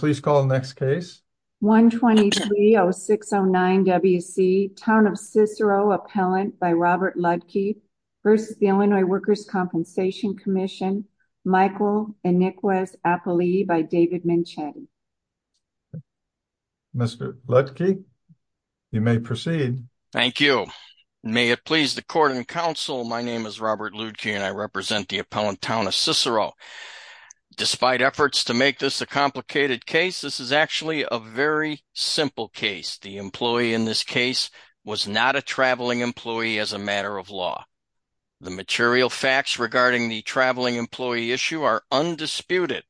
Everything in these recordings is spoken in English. Michael Anikwes-Apolli by David Minchetti Mr. Ludke, you may proceed. Thank you. May it please the Court and Council, my name is Robert Ludke and I represent the a very simple case. The employee in this case was not a traveling employee as a matter of law. The material facts regarding the traveling employee issue are undisputed.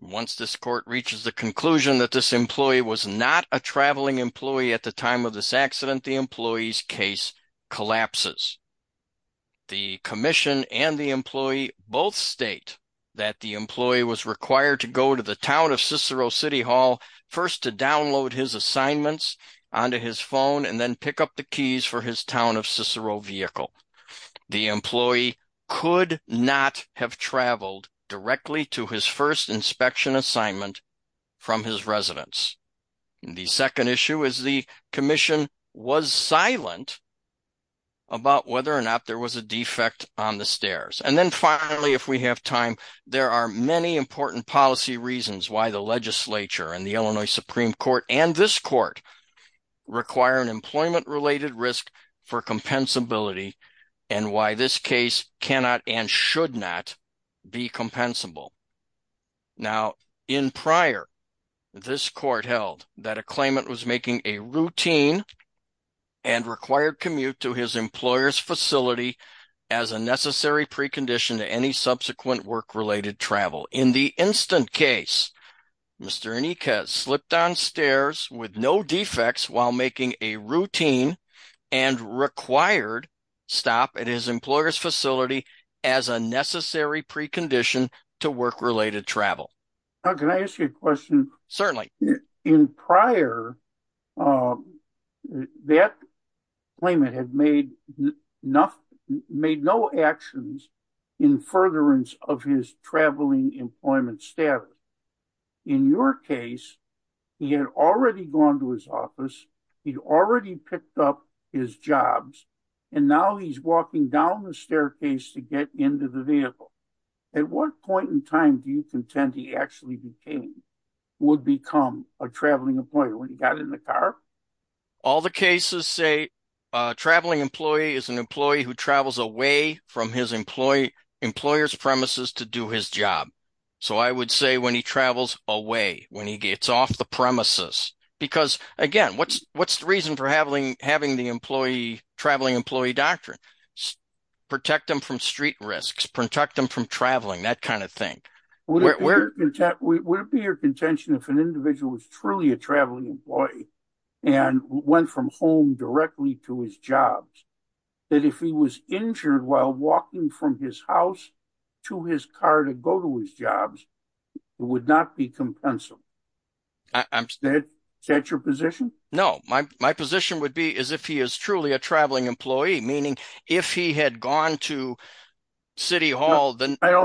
Once this Court reaches the conclusion that this employee was not a traveling employee at the time of this accident, the employee's case collapses. The Commission and the employee both state that the employee was required to go to the Town of Cicero City Hall first to download his assignments onto his phone and then pick up the keys for his Town of Cicero vehicle. The employee could not have traveled directly to his first inspection assignment from his residence. The second issue is the Commission was silent about whether or not there was a defect on the stairs. And then finally, if we have time, there are many important policy reasons why the Legislature and the Illinois Supreme Court and this Court require an employment-related risk for compensability and why this case cannot and should not be compensable. Now, in prior, this Court held that a claimant was making a routine and required as a necessary precondition to any subsequent work-related travel. In the instant case, Mr. Enique has slipped on stairs with no defects while making a routine and required stop at his employer's facility as a necessary precondition to work-related travel. Can I ask you a question? Certainly. In prior, that claimant had made no actions in furtherance of his traveling employment status. In your case, he had already gone to his office, he'd already picked up his jobs, and now he's walking down the staircase to get into the vehicle. At what point in time do you contend he actually became, would become a traveling employer when he got in the car? All the cases say a traveling employee is an employee who travels away from his employer's premises to do his job. So I would say when he travels away, when he gets off the premises, because again, what's the reason for having the traveling employee doctrine? Protect them from street risks, protect them from traveling, that kind of thing. Would it be your contention if an individual was truly a traveling employee and went from home directly to his jobs, that if he was injured while walking from his house to his car to go to his jobs, it would not be compensable? Is that your position? No, my position would be as if he is truly a traveling employee, meaning if he had gone to Okay, I'm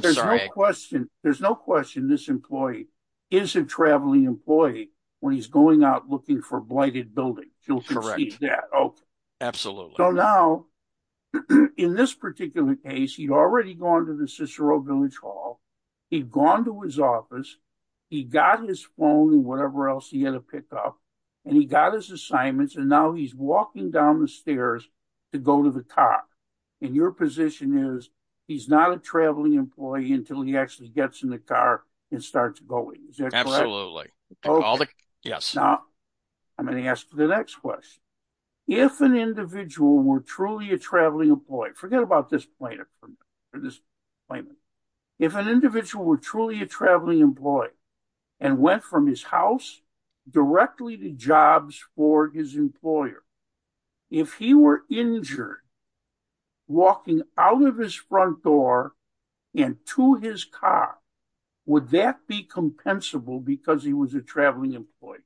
sorry. There's no question this employee is a traveling employee when he's going out looking for a blighted building. You'll concede that. Absolutely. So now, in this particular case, he'd already gone to the Cicero Village Hall, he'd gone to his office, he got his phone and whatever else he had to pick up, and he got his assignments, and now he's walking down the stairs to go to the car. And your position is he's not a traveling employee until he actually gets in the car and starts going. Is that correct? Absolutely. Yes. Now, I'm going to ask the next question. If an individual were truly a traveling employee, forget about this plaintiff or this plaintiff, if an individual were truly a traveling employee and went from his house directly to jobs for his walking out of his front door and to his car, would that be compensable because he was a traveling employee?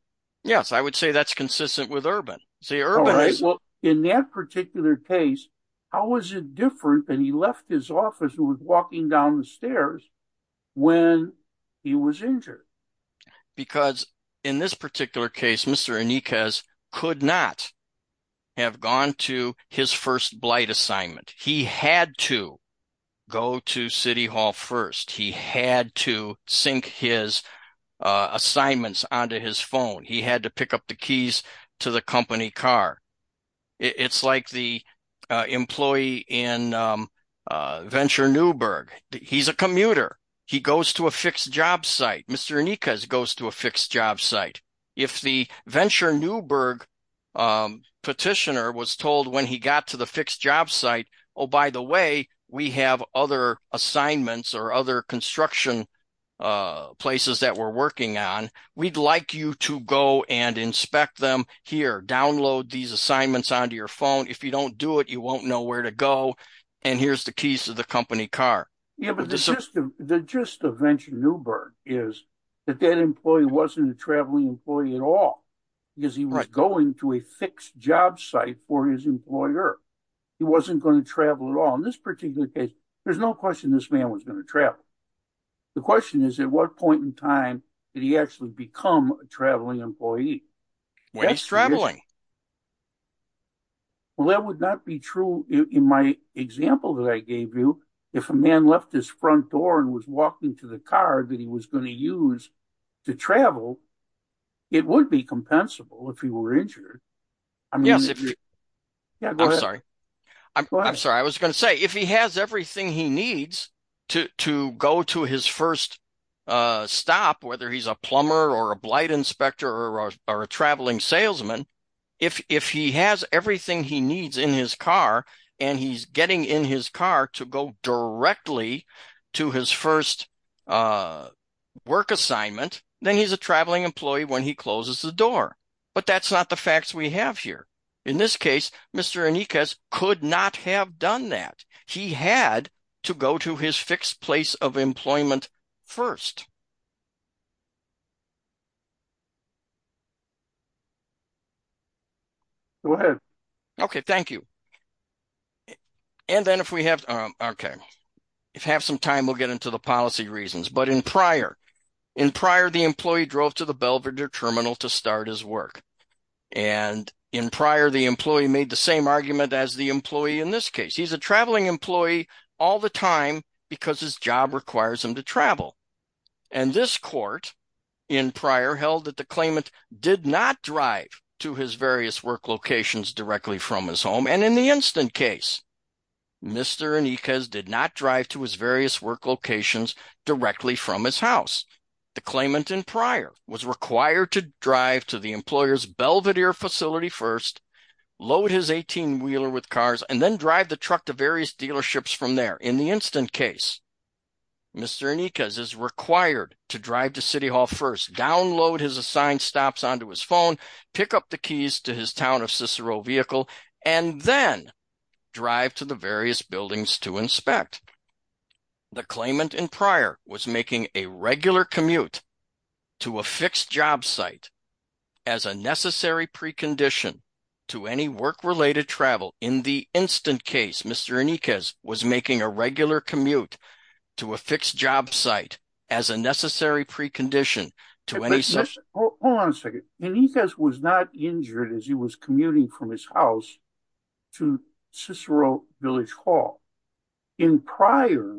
Yes, I would say that's consistent with Urban. In that particular case, how is it different than he left his office and was walking down the stairs when he was injured? Because in this particular case, Mr. Blight assignment, he had to go to City Hall first. He had to sync his assignments onto his phone. He had to pick up the keys to the company car. It's like the employee in Venture Newberg. He's a commuter. He goes to a fixed job site. Mr. Nikas goes to a fixed job site. If the Venture Newberg petitioner was told when he got to the fixed job site, oh, by the way, we have other assignments or other construction places that we're working on. We'd like you to go and inspect them here. Download these assignments onto your phone. If you don't do it, you won't know where to go. And here's the keys to the company car. Yeah, but the gist of Venture Newberg is that that employee wasn't a traveling employee at all because he was going to a fixed job site for his employer. He wasn't going to travel at all. In this particular case, there's no question this man was going to travel. The question is at what point in time did he actually become a traveling employee? When he's traveling. Well, that would not be true in my example that I gave you. If a man left his front door and was walking to the car that he was going to use to travel, it would be compensable if he were injured. Yes. I'm sorry. I'm sorry. I was going to say if he has everything he needs to go to his first stop, whether he's a plumber or a blight inspector or a traveling salesman, if he has everything he needs in his car and he's getting in his car to go directly to his first work assignment, then he's a traveling employee when he closes the door. But that's not the facts we have here. In this case, Mr. Enriquez could not have done that. He had to go to his fixed place of employment first. Go ahead. OK, thank you. And then if we have OK, if we have some time, we'll get into the policy reasons. But in prior, in prior, the employee drove to the Belvidere terminal to start his work. And in prior, the employee made the same argument as the employee in this case. He's a traveling employee all the time because his job requires him to travel. And this court in prior held that the claimant did not drive to his various work locations directly from his home. And in the instant case, Mr. Enriquez did not drive to his various work locations directly from his house. The claimant in prior was required to drive to the employer's and then drive the truck to various dealerships from there. In the instant case, Mr. Enriquez is required to drive to City Hall first, download his assigned stops onto his phone, pick up the keys to his town of Cicero vehicle, and then drive to the various buildings to inspect. The claimant in prior was making a regular commute to a fixed job site as a necessary precondition to any work-related travel. In the instant case, Mr. Enriquez was making a regular commute to a fixed job site as a necessary precondition to any such... Hold on a second. Enriquez was not injured as he was commuting from his house to Cicero Village Hall. In prior,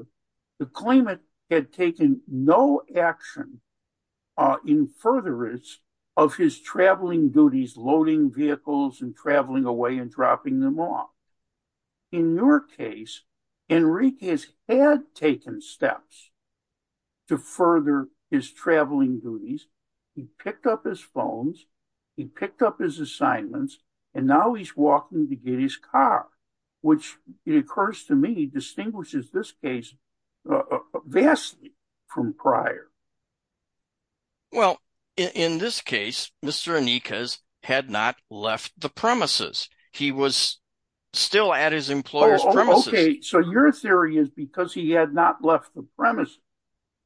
the claimant had taken no action in furtherance of his traveling duties, loading vehicles and traveling away and dropping them off. In your case, Enriquez had taken steps to further his traveling duties. He picked up his phones, he picked up his assignments, and now he's walking to get his car, which it occurs to me distinguishes this case vastly from prior. Well, in this case, Mr. Enriquez had not left the premises. He was still at his employer's premises. Oh, okay. So your theory is because he had not left the premises,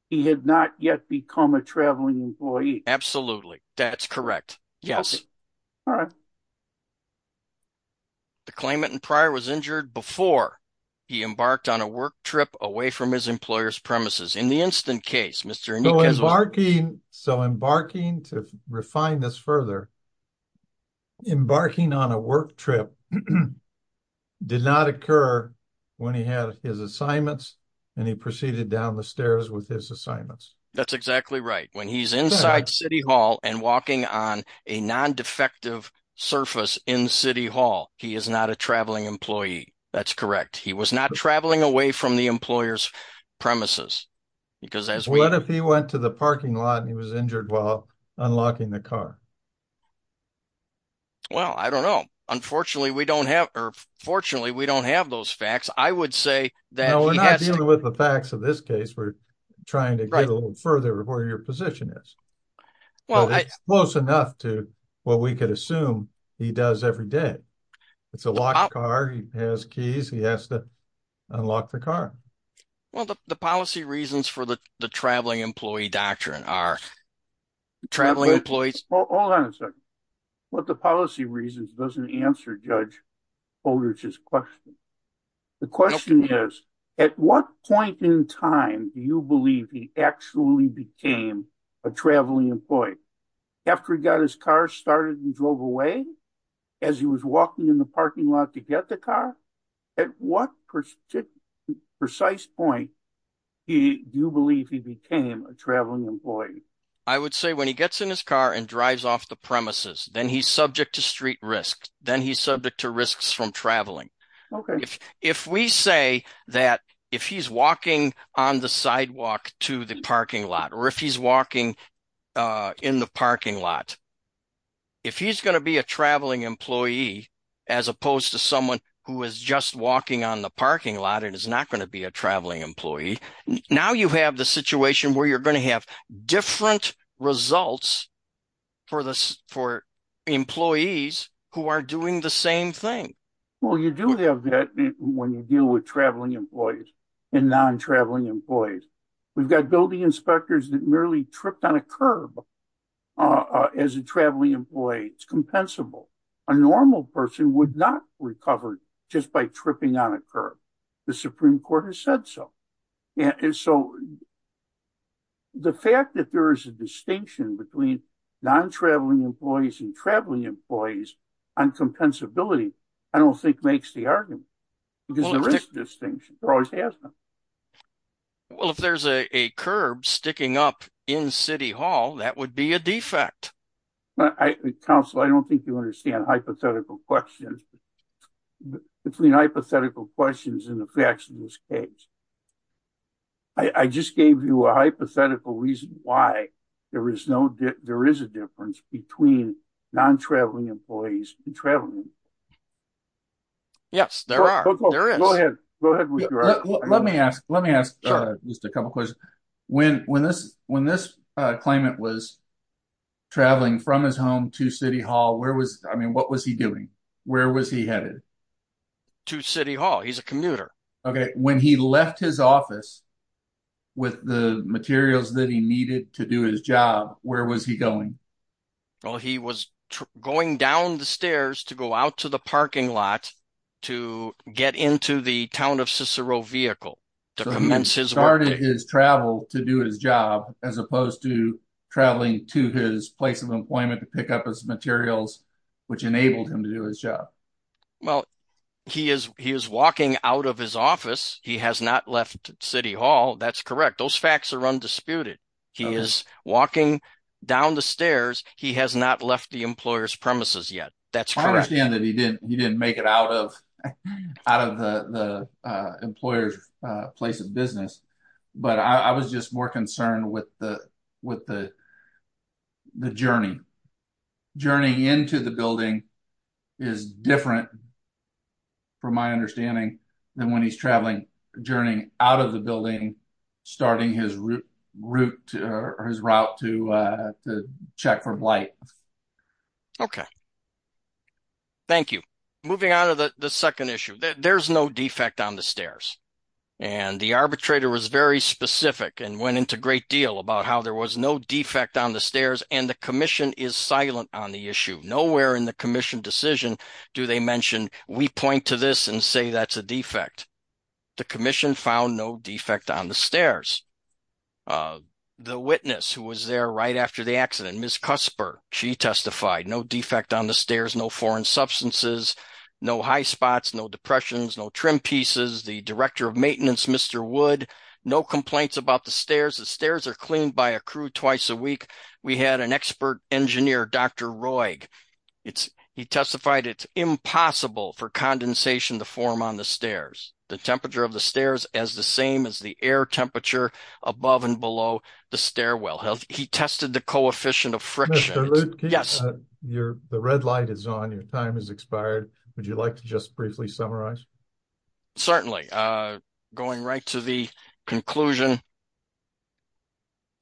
he had not yet become a traveling employee. Absolutely. That's correct. Yes. All right. The claimant in prior was injured before he embarked on a work trip away from his employer's premises. In the instant case, Mr. Enriquez was... So embarking, to refine this further, embarking on a work trip did not occur when he had his assignments and he proceeded down the stairs with his assignments. That's exactly right. When he's inside City Hall and walking on a non-defective surface in City Hall, he is not a traveling employee. That's correct. He was not traveling away from the employer's premises. Because as we... What if he went to the parking lot and he was injured while unlocking the car? Well, I don't know. Unfortunately, we don't have those facts. I would say that... With the facts of this case, we're trying to get a little further of where your position is. Well, it's close enough to what we could assume he does every day. It's a locked car. He has keys. He has to unlock the car. Well, the policy reasons for the traveling employee doctrine are traveling employees... Hold on a second. What the policy reasons doesn't answer Judge Holdridge's question. The question is, at what point in time do you believe he actually became a traveling employee? After he got his car started and drove away? As he was walking in the parking lot to get the car? At what precise point do you believe he became a traveling employee? I would say when he gets in his car and drives off the premises, then he's subject to street risk. Then he's subject to risks from traveling. Okay. If we say that if he's walking on the sidewalk to the parking lot, or if he's walking in the parking lot, if he's going to be a traveling employee as opposed to someone who is just walking on the parking lot and is not going to be a traveling employee, now you have the situation where you're going to have different results for employees who are doing the same thing. Well, you do have that when you deal with traveling employees and non-traveling employees. We've got building inspectors that merely tripped on a curb as a traveling employee. It's compensable. A normal person would not recover just by tripping on a curb. The Supreme Court has said so. The fact that there is a distinction between non-traveling employees and traveling employees on compensability, I don't think makes the argument, because there is a distinction. There always has been. Well, if there's a curb sticking up in City Hall, that would be a defect. Counselor, I don't think you understand hypothetical questions. Between hypothetical questions and the facts in this case, I just gave you a hypothetical reason why there is a difference between non-traveling employees and traveling employees. Yes, there are. Let me ask just a couple questions. When this claimant was traveling from his home to City Hall, what was he doing? Where was he headed? To City Hall. He's a commuter. Okay. When he left his office with the materials that he needed to do his job, where was he going? Well, he was going down the stairs to go out to the parking lot to get into the Town of Cicero vehicle to commence his work. So he started his travel to do his job as opposed to traveling to his place of employment to pick up his materials, which enabled him to do his job. Well, he is walking out of his office. He has not left City Hall. That's correct. Those facts are undisputed. He is walking down the stairs. He has not left the employer's premises yet. That's correct. I understand that he didn't make it out of the employer's place of business, but I was just more concerned with the journey. Journeying into the building is different, from my understanding, than when he's traveling, journeying out of the building, starting his route to check for blight. Okay. Thank you. Moving on to the second issue. There's no defect on the stairs. And the arbitrator was very specific and went into great deal about how there was no defect on the stairs, and the Commission is silent on the issue. Nowhere in the Commission decision do they mention, we point to this and say that's a defect. The Commission found no defect on the stairs. The witness who was there right after the accident, Ms. Cusper, she testified, no defect on the stairs, no foreign substances, no high spots, no depressions, no trim pieces. The Director of Maintenance, Mr. Wood, no complaints about the stairs. The stairs are cleaned by a crew twice a week. We had an expert engineer, Dr. Roig. He testified it's impossible for condensation to form on the stairs. The temperature of the stairs as the same as the air temperature above and below the stairwell. He tested the coefficient of friction. Mr. Luteke, the red light is on, your time has expired. Would you like to just briefly summarize? Certainly. Going right to the conclusion.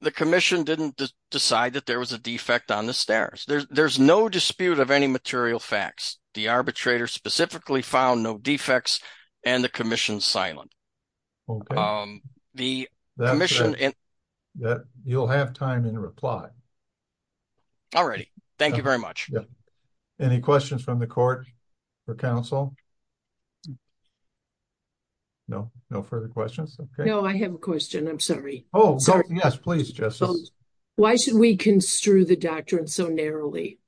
The Commission didn't decide that there was a defect on the stairs. There's no dispute of any material facts. The arbitrator specifically found no defects, and the Commission is silent. Okay. The Commission- That's it. You'll have time in reply. All righty. Thank you very much. Yeah. Any questions from the Court or Council? No? No further questions? No, I have a question. I'm sorry. Oh, yes, please, Justice. Why should we construe the doctrine so narrowly?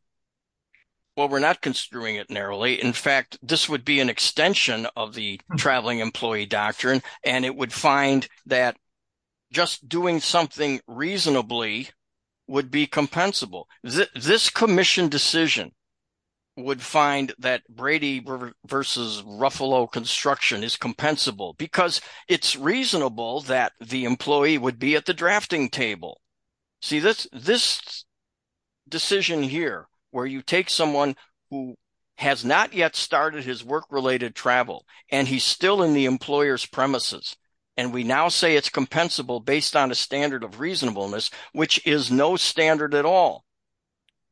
Well, we're not construing it narrowly. In fact, this would be an extension of the Traveling Employee Doctrine, and it would find that just doing something reasonably would be compensable. This Commission decision would find that Brady versus Ruffalo construction is compensable because it's reasonable that the employee would be at the drafting table. See, this decision here, where you take someone who has not yet started his work-related travel, and he's still in the employer's premises, and we now say it's compensable based on a standard of reasonableness, which is no standard at all,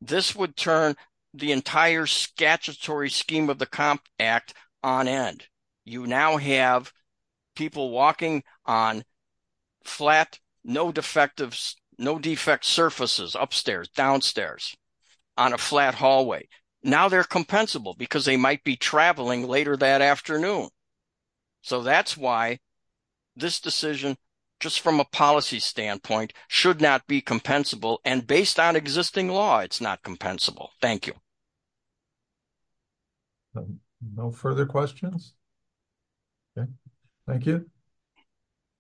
this would turn the entire statutory scheme of the Comp Act on end. You now have people walking on flat, no defect surfaces, upstairs, downstairs, on a flat hallway. Now they're compensable because they might be traveling later that afternoon. So that's why this decision, just from a policy standpoint, should not be compensable, and based on existing law, it's not compensable. Thank you. No further questions? Okay, thank you.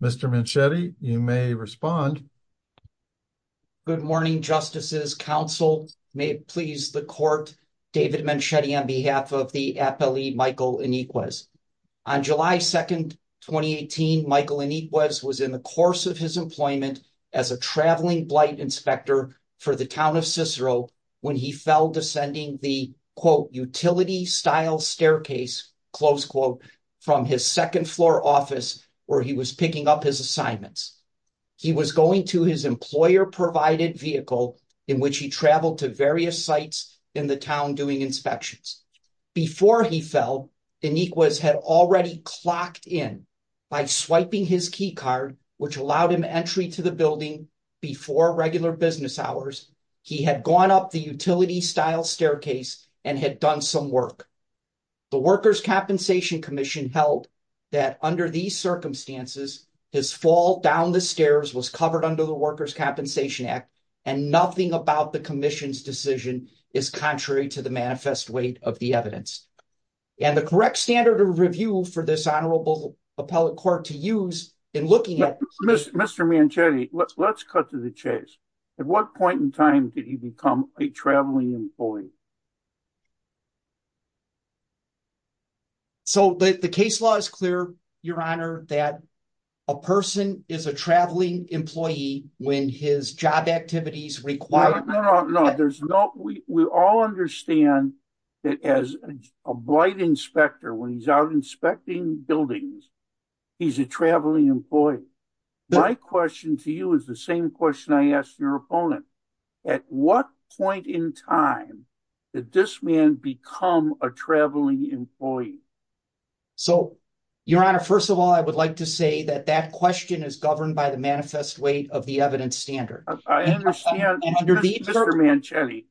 Mr. Menchete, you may respond. Good morning, Justices. Counsel may please the court. David Menchete on behalf of the appellee Michael Iniguez. On July 2nd, 2018, Michael Iniguez was in the course of his employment as a traveling blight inspector for the town of Cicero when he fell descending the, quote, utility-style staircase, close quote, from his second floor office where he was picking up his assignments. He was going to his employer-provided vehicle in which he traveled to various sites in the town doing inspections. Before he fell, Iniguez had already clocked in by swiping his before regular business hours. He had gone up the utility-style staircase and had done some work. The Workers' Compensation Commission held that under these circumstances, his fall down the stairs was covered under the Workers' Compensation Act, and nothing about the Commission's decision is contrary to the manifest weight of the evidence. And the correct standard of review for this Honorable Appellate Court to use in looking at... Mr. Menchete, let's cut to the chase. At what point in time did he become a traveling employee? So the case law is clear, Your Honor, that a person is a traveling employee when his job activities require... No, no, no. There's no... We all understand that as a blight inspector, when he's out inspecting buildings, he's a traveling employee. My question to you is the same question I asked your opponent. At what point in time did this man become a traveling employee? So, Your Honor, first of all, I would like to say that that question is governed by the manifest weight of the evidence standard. I understand, Mr. Menchete.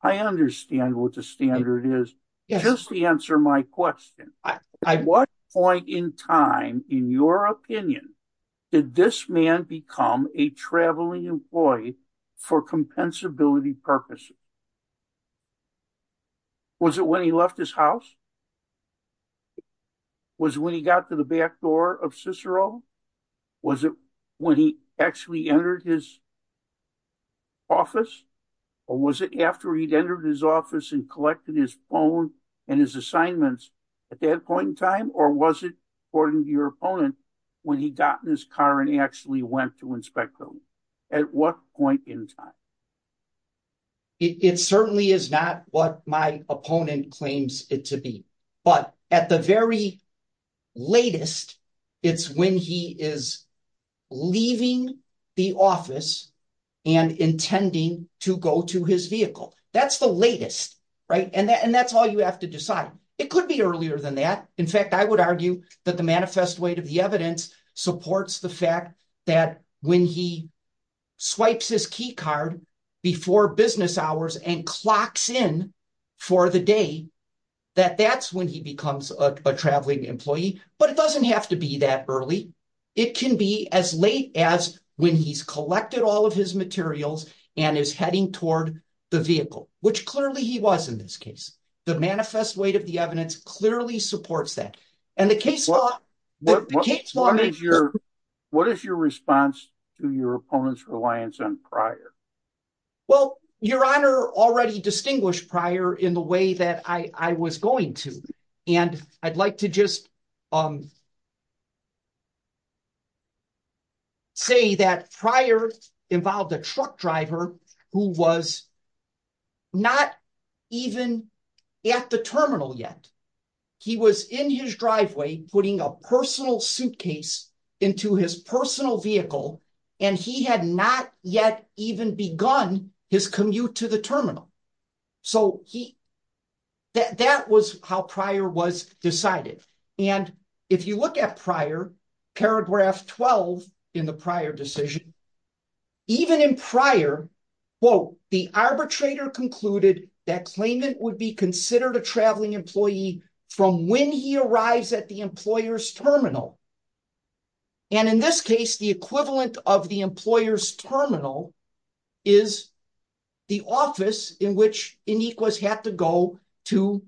I understand what the standard is. Just to answer my question, at what point in time, in your opinion, did this man become a traveling employee for compensability purposes? Was it when he left his house? Was it when he got to the back door of Cicero? Was it when he actually entered his office and collected his phone and his assignments at that point in time? Or was it, according to your opponent, when he got in his car and actually went to inspect buildings? At what point in time? It certainly is not what my opponent claims it to be. But at the very latest, right? And that's all you have to decide. It could be earlier than that. In fact, I would argue that the manifest weight of the evidence supports the fact that when he swipes his key card before business hours and clocks in for the day, that that's when he becomes a traveling employee. But it doesn't have to be that early. It can be as late as when he's collected all of his materials and is heading toward the vehicle, which clearly he was in this case. The manifest weight of the evidence clearly supports that. And the case law... What is your response to your opponent's reliance on prior? Well, Your Honor already distinguished prior in the way that I was going to. And I'd like to just say that prior involved a truck driver who was not even at the terminal yet. He was in his driveway putting a personal suitcase into his personal vehicle, and he had not yet even begun his commute to the terminal. So that was how prior was decided. And if you look at prior, paragraph 12 in the prior decision, even in prior, quote, the arbitrator concluded that claimant would be considered a traveling employee from when he arrives at the employer's terminal. And in this case, the equivalent of the employer's terminal is the office in which Iniquis had to go to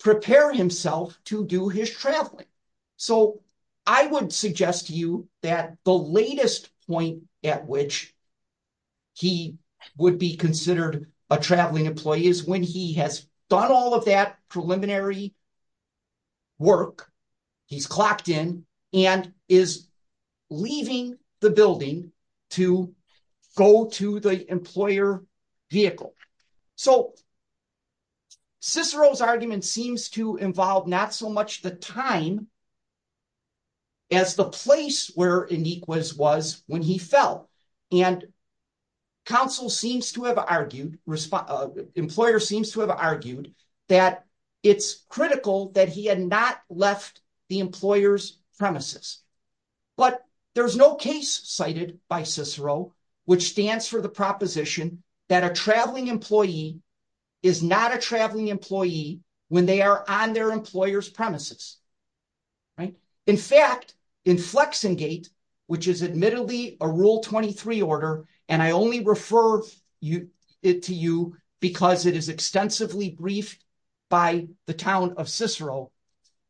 prepare himself to do his traveling. So I would suggest to you that the latest point at which he would be considered a traveling employee is when he has done all of that preliminary work. He's clocked in and is leaving the building to go to the employer vehicle. So Cicero's argument seems to involve not so much the time as the place where Iniquis was when he critical that he had not left the employer's premises. But there's no case cited by Cicero which stands for the proposition that a traveling employee is not a traveling employee when they are on their employer's premises. In fact, in Flexingate, which is admittedly a rule 23 order, and I only refer it to you because it is extensively briefed by the town of Cicero,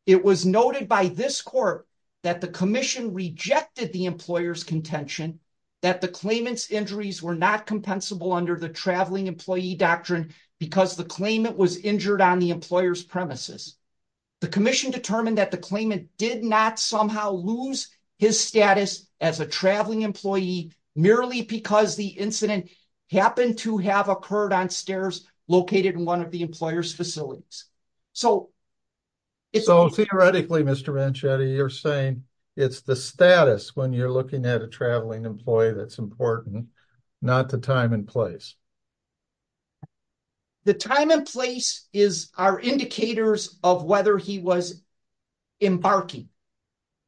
it was noted by this court that the commission rejected the employer's contention that the claimant's injuries were not compensable under the traveling employee doctrine because the claimant was injured on the employer's premises. The commission determined that the claimant did not lose his status as a traveling employee merely because the incident happened to have occurred on stairs located in one of the employer's facilities. So theoretically, Mr. Venchetti, you're saying it's the status when you're looking at a traveling employee that's important, not the time and place. The time and place are indicators of whether he was embarking.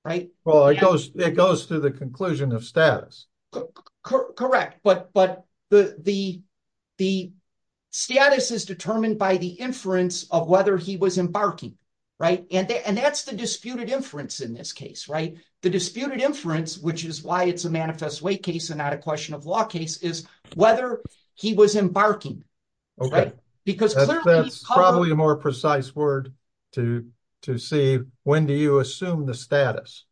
Well, it goes to the conclusion of status. Correct, but the status is determined by the inference of whether he was embarking. And that's the disputed inference in this case. The disputed inference, which is why it's a manifest way case and not a question of law case, is whether he was embarking. That's probably a more precise word to see when do you assume the status.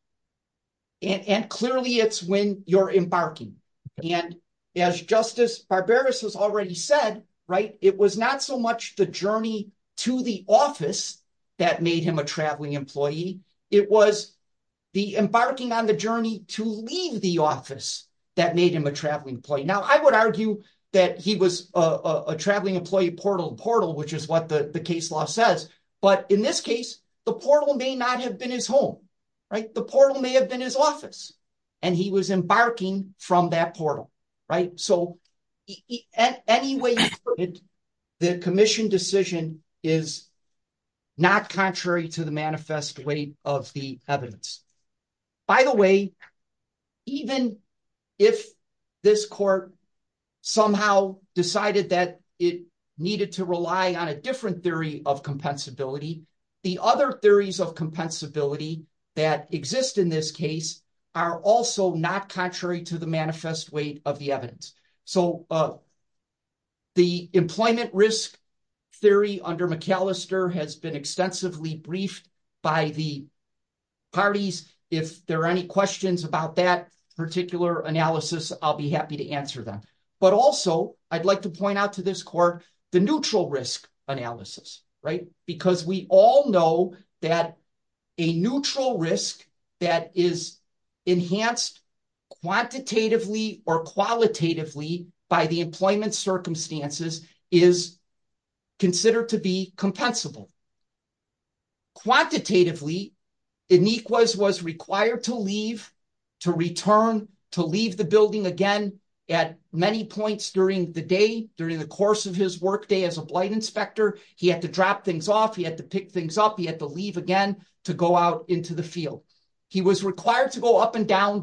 And clearly it's when you're embarking. And as Justice Barberas has already said, right, it was not so much the journey to the office that made him a traveling employee. It was the embarking on the journey to leave the office that made him a traveling employee. Now, I would argue that he was a traveling employee portal to portal, which is what the case law says. But in this case, the portal may not have been his home, right? The portal may have been his office, and he was embarking from that portal, right? So anyway, the commission decision is not contrary to the manifest way of the evidence. By the way, even if this court somehow decided that it needed to rely on a different theory of compensability, the other theories of compensability that exist in this case are also not contrary to the manifest way of the evidence. So the employment risk theory under McAllister has been extensively briefed by the parties. If there are any questions about that particular analysis, I'll be happy to answer them. But also I'd like to point out to this court the neutral risk analysis, right? Because we all know that a neutral risk that is enhanced quantitatively or qualitatively by the employment circumstances is considered to be compensable. Quantitatively, Inequs was required to leave, to return, to leave the building again at many points during the day, during the course of his workday as a blight inspector. He had to drop things off. He had to pick things up. He had to leave again to go out into the field. He was required to go up and down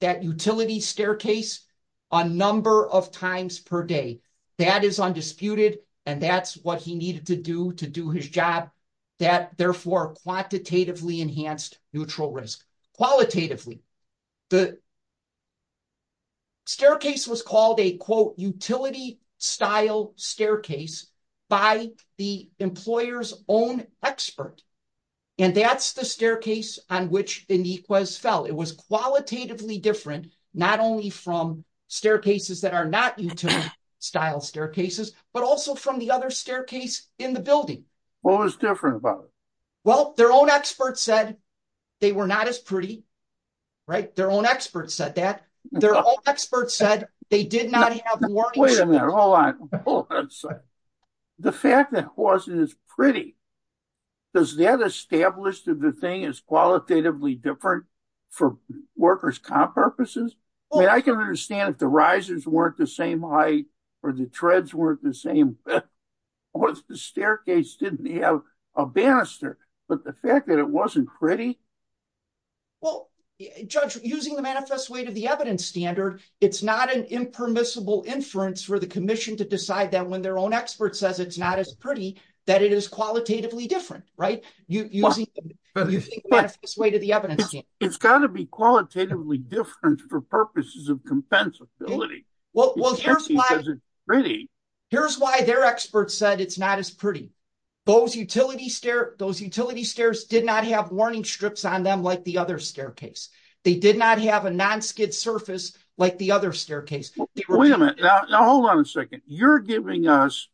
that utility staircase a number of times per day. That is undisputed, and that's what he needed to do to do his job. That, therefore, quantitatively enhanced neutral risk. Qualitatively, the staircase was called a, quote, utility-style staircase by the employer's own expert. And that's the staircase on which Inequs fell. It was qualitatively different, not only from staircases that are not utility-style staircases, but also from the other They were not as pretty, right? Their own experts said that. Their own experts said they did not have the warnings. Wait a minute, hold on, hold on a second. The fact that it wasn't as pretty, does that establish that the thing is qualitatively different for workers' comp purposes? I mean, I can understand if the risers weren't the same height or the treads weren't the same, or if the staircase didn't have a banister, but the fact that it wasn't pretty? Well, Judge, using the manifest way to the evidence standard, it's not an impermissible inference for the commission to decide that when their own expert says it's not as pretty, that it is qualitatively different, right? Using the manifest way to the evidence standard. It's got to be qualitatively different for purposes of compensability. Well, here's why their experts said it's not as pretty. Those utility stairs did not have warning strips on them like the other staircase. They did not have a non-skid surface like the other staircase. Wait a minute, now hold on a second. You're giving us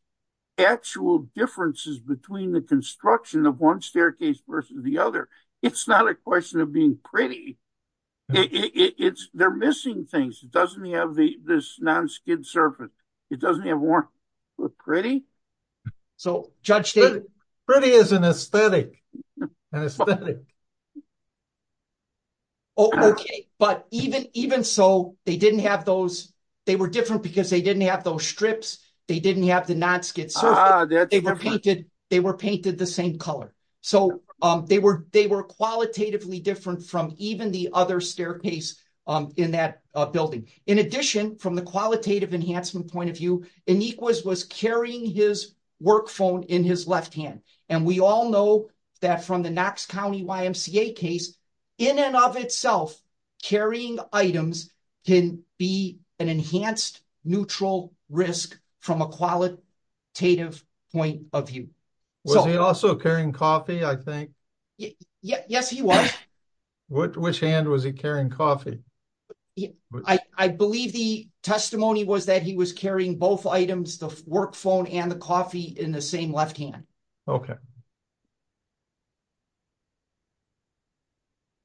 actual differences between the construction of one staircase versus the other. It's not a question of being pretty. It's, they're missing things. It doesn't have this non-skid surface. It doesn't have warning, but pretty? Pretty is an aesthetic. Oh, okay. But even so, they didn't have those, they were different because they didn't have those strips. They didn't have the non-skid surface. They were painted the same color. So, they were qualitatively different from even the other staircase in that building. In addition, from the qualitative enhancement point of view, Inequs was carrying his work phone in his left hand. And we all know that from the Knox County YMCA case, in and of itself, carrying items can be an enhanced neutral risk from a qualitative point of view. Was he also carrying coffee, I think? Yes, he was. Which hand was he carrying coffee? I believe the testimony was that he was carrying both items, the work phone and the coffee, in the same left hand. Okay.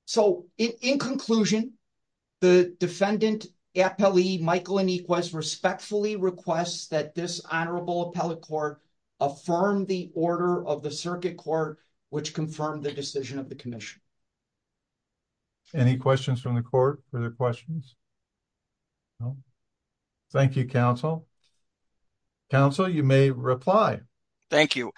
So, in conclusion, the defendant, Appellee Michael Inequs, respectfully requests that this of the circuit court, which confirmed the decision of the commission. Any questions from the court? Are there questions? Thank you, counsel. Counsel, you may reply. Thank you.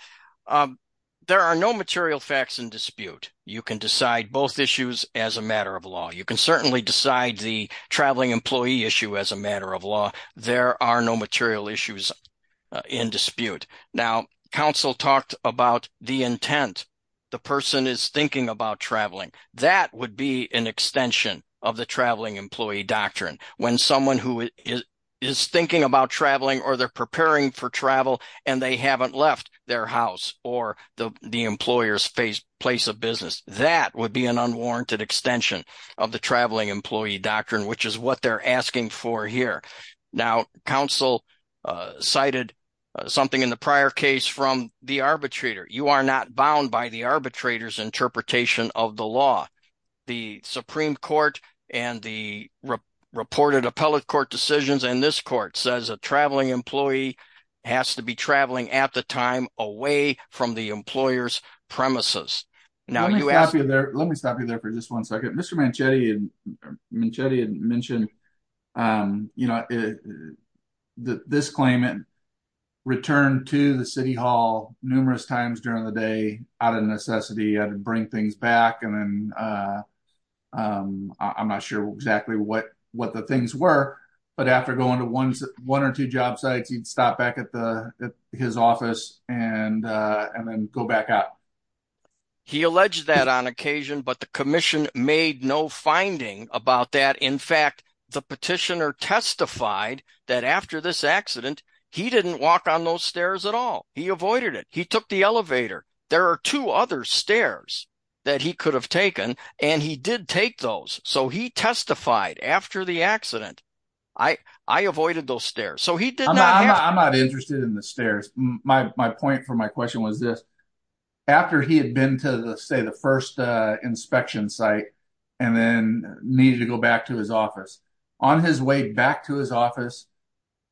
There are no material facts in dispute. You can decide both issues as a matter of law. You can certainly decide the traveling employee issue as a matter of law. There are no material issues in dispute. Now, counsel talked about the intent. The person is thinking about traveling. That would be an extension of the traveling employee doctrine. When someone who is thinking about traveling, or they're preparing for travel, and they haven't left their house or the employer's face place of business, that would be an unwarranted extension of the traveling employee doctrine, which is what they're asking for here. Now, counsel cited something in the prior case from the arbitrator. You are not bound by the arbitrator's interpretation of the law. The Supreme Court and the reported appellate court decisions in this court says a traveling employee has to be traveling at the time away from the employer's premises. Let me stop you there for just one second. Mr. Manchetti had mentioned this claimant returned to the city hall numerous times during the day out of necessity. He had to bring things back. I'm not sure exactly what the things were, but after going to one or two job sites, he'd stop back at his office and then go back out. He alleged that on occasion, but the commission made no finding about that. In fact, the petitioner testified that after this accident, he didn't walk on those stairs at all. He avoided it. He took the elevator. There are two other stairs that he could have taken, and he did take those. So he testified after the accident, I avoided those stairs. I'm not interested in the stairs. My point for my question was this. After he had been to, say, the first inspection site and then needed to go back to his office, on his way back to his office,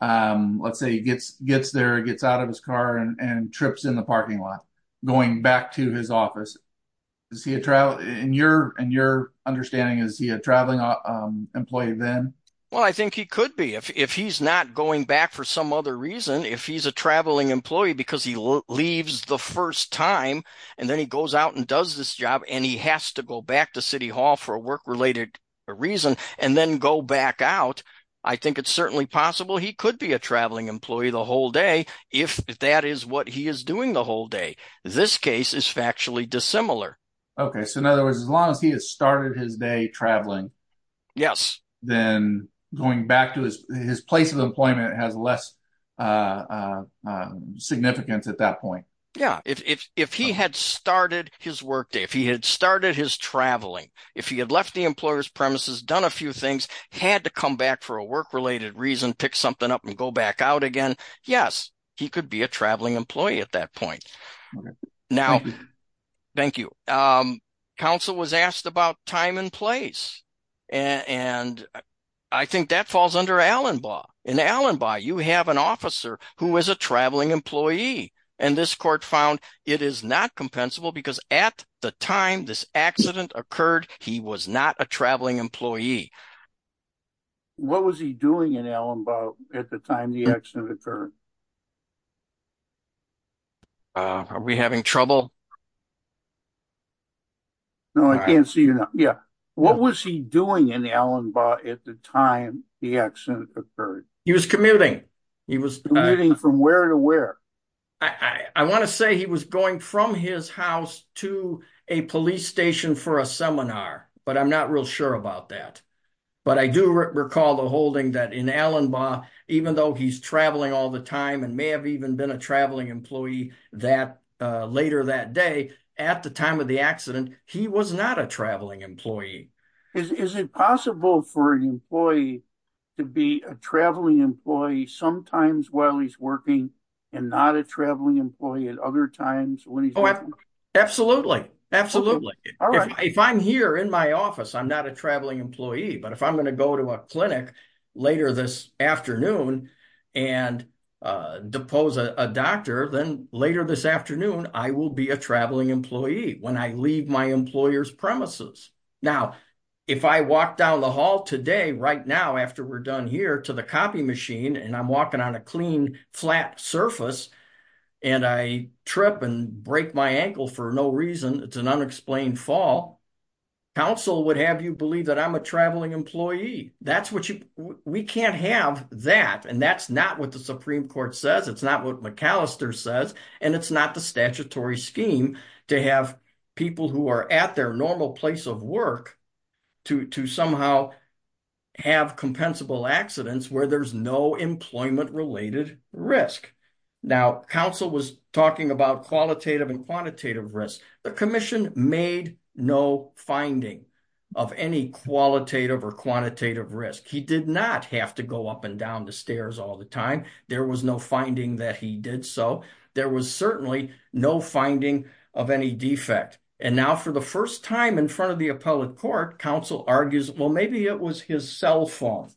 let's say he gets there, gets out of his car and trips in the parking lot, going back to his office. In your understanding, is he a traveling employee then? Well, I think he could be. If he's not going back for some other reason, if he's a traveling employee for the first time, and then he goes out and does this job, and he has to go back to City Hall for a work-related reason, and then go back out, I think it's certainly possible he could be a traveling employee the whole day, if that is what he is doing the whole day. This case is factually dissimilar. Okay, so in other words, as long as he has started his day traveling, then going back to his place of employment has less significance at that point. Yeah, if he had started his workday, if he had started his traveling, if he had left the employer's premises, done a few things, had to come back for a work-related reason, pick something up and go back out again, yes, he could be a traveling employee at that point. Now, thank you. Counsel was asked about time and place, and I think that falls under Allenbaugh. In Allenbaugh, you have an officer who is a traveling employee, and this court found it is not compensable because at the time this accident occurred, he was not a traveling employee. What was he doing in Allenbaugh at the time the accident occurred? Are we having trouble? No, I can't see you now. Yeah, what was he doing in Allenbaugh at the time the accident occurred? He was commuting. He was commuting from where to where? I want to say he was going from his house to a police station for a seminar, but I'm not real sure about that. But I do recall the holding that in Allenbaugh, even though he's traveling all the time and may have even been a traveling employee that later that day, at the time of the accident, he was not a traveling employee. Is it possible for an employee to be a traveling employee sometimes while he's working and not a traveling employee at other times? Absolutely, absolutely. If I'm here in my office, I'm not a traveling employee, but if I'm going to go to a clinic later this afternoon and depose a doctor, then later this if I walk down the hall today, right now, after we're done here to the copy machine, and I'm walking on a clean, flat surface, and I trip and break my ankle for no reason, it's an unexplained fall, counsel would have you believe that I'm a traveling employee. We can't have that. And that's not what the Supreme Court says. It's not what McAllister says. And it's not the statutory scheme to have people who are at their normal place of work to somehow have compensable accidents where there's no employment-related risk. Now, counsel was talking about qualitative and quantitative risk. The commission made no finding of any qualitative or quantitative risk. He did not have to go up and down the stairs all the time. There was no finding that he did so. There was certainly no finding of any defect. And now, for the first time in front of the appellate court, counsel argues, well, maybe it was his cell phone.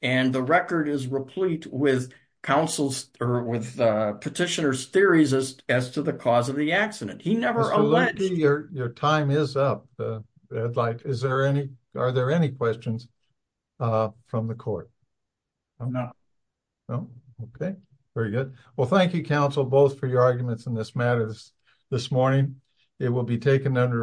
And the record is replete with petitioner's theories as to the cause of the accident. He never alleged— Mr. Lutke, your time is up. Are there any questions from the court? I'm not. No? Okay. Very good. Well, thank you, counsel, both for your arguments in this matter this morning. It will be taken under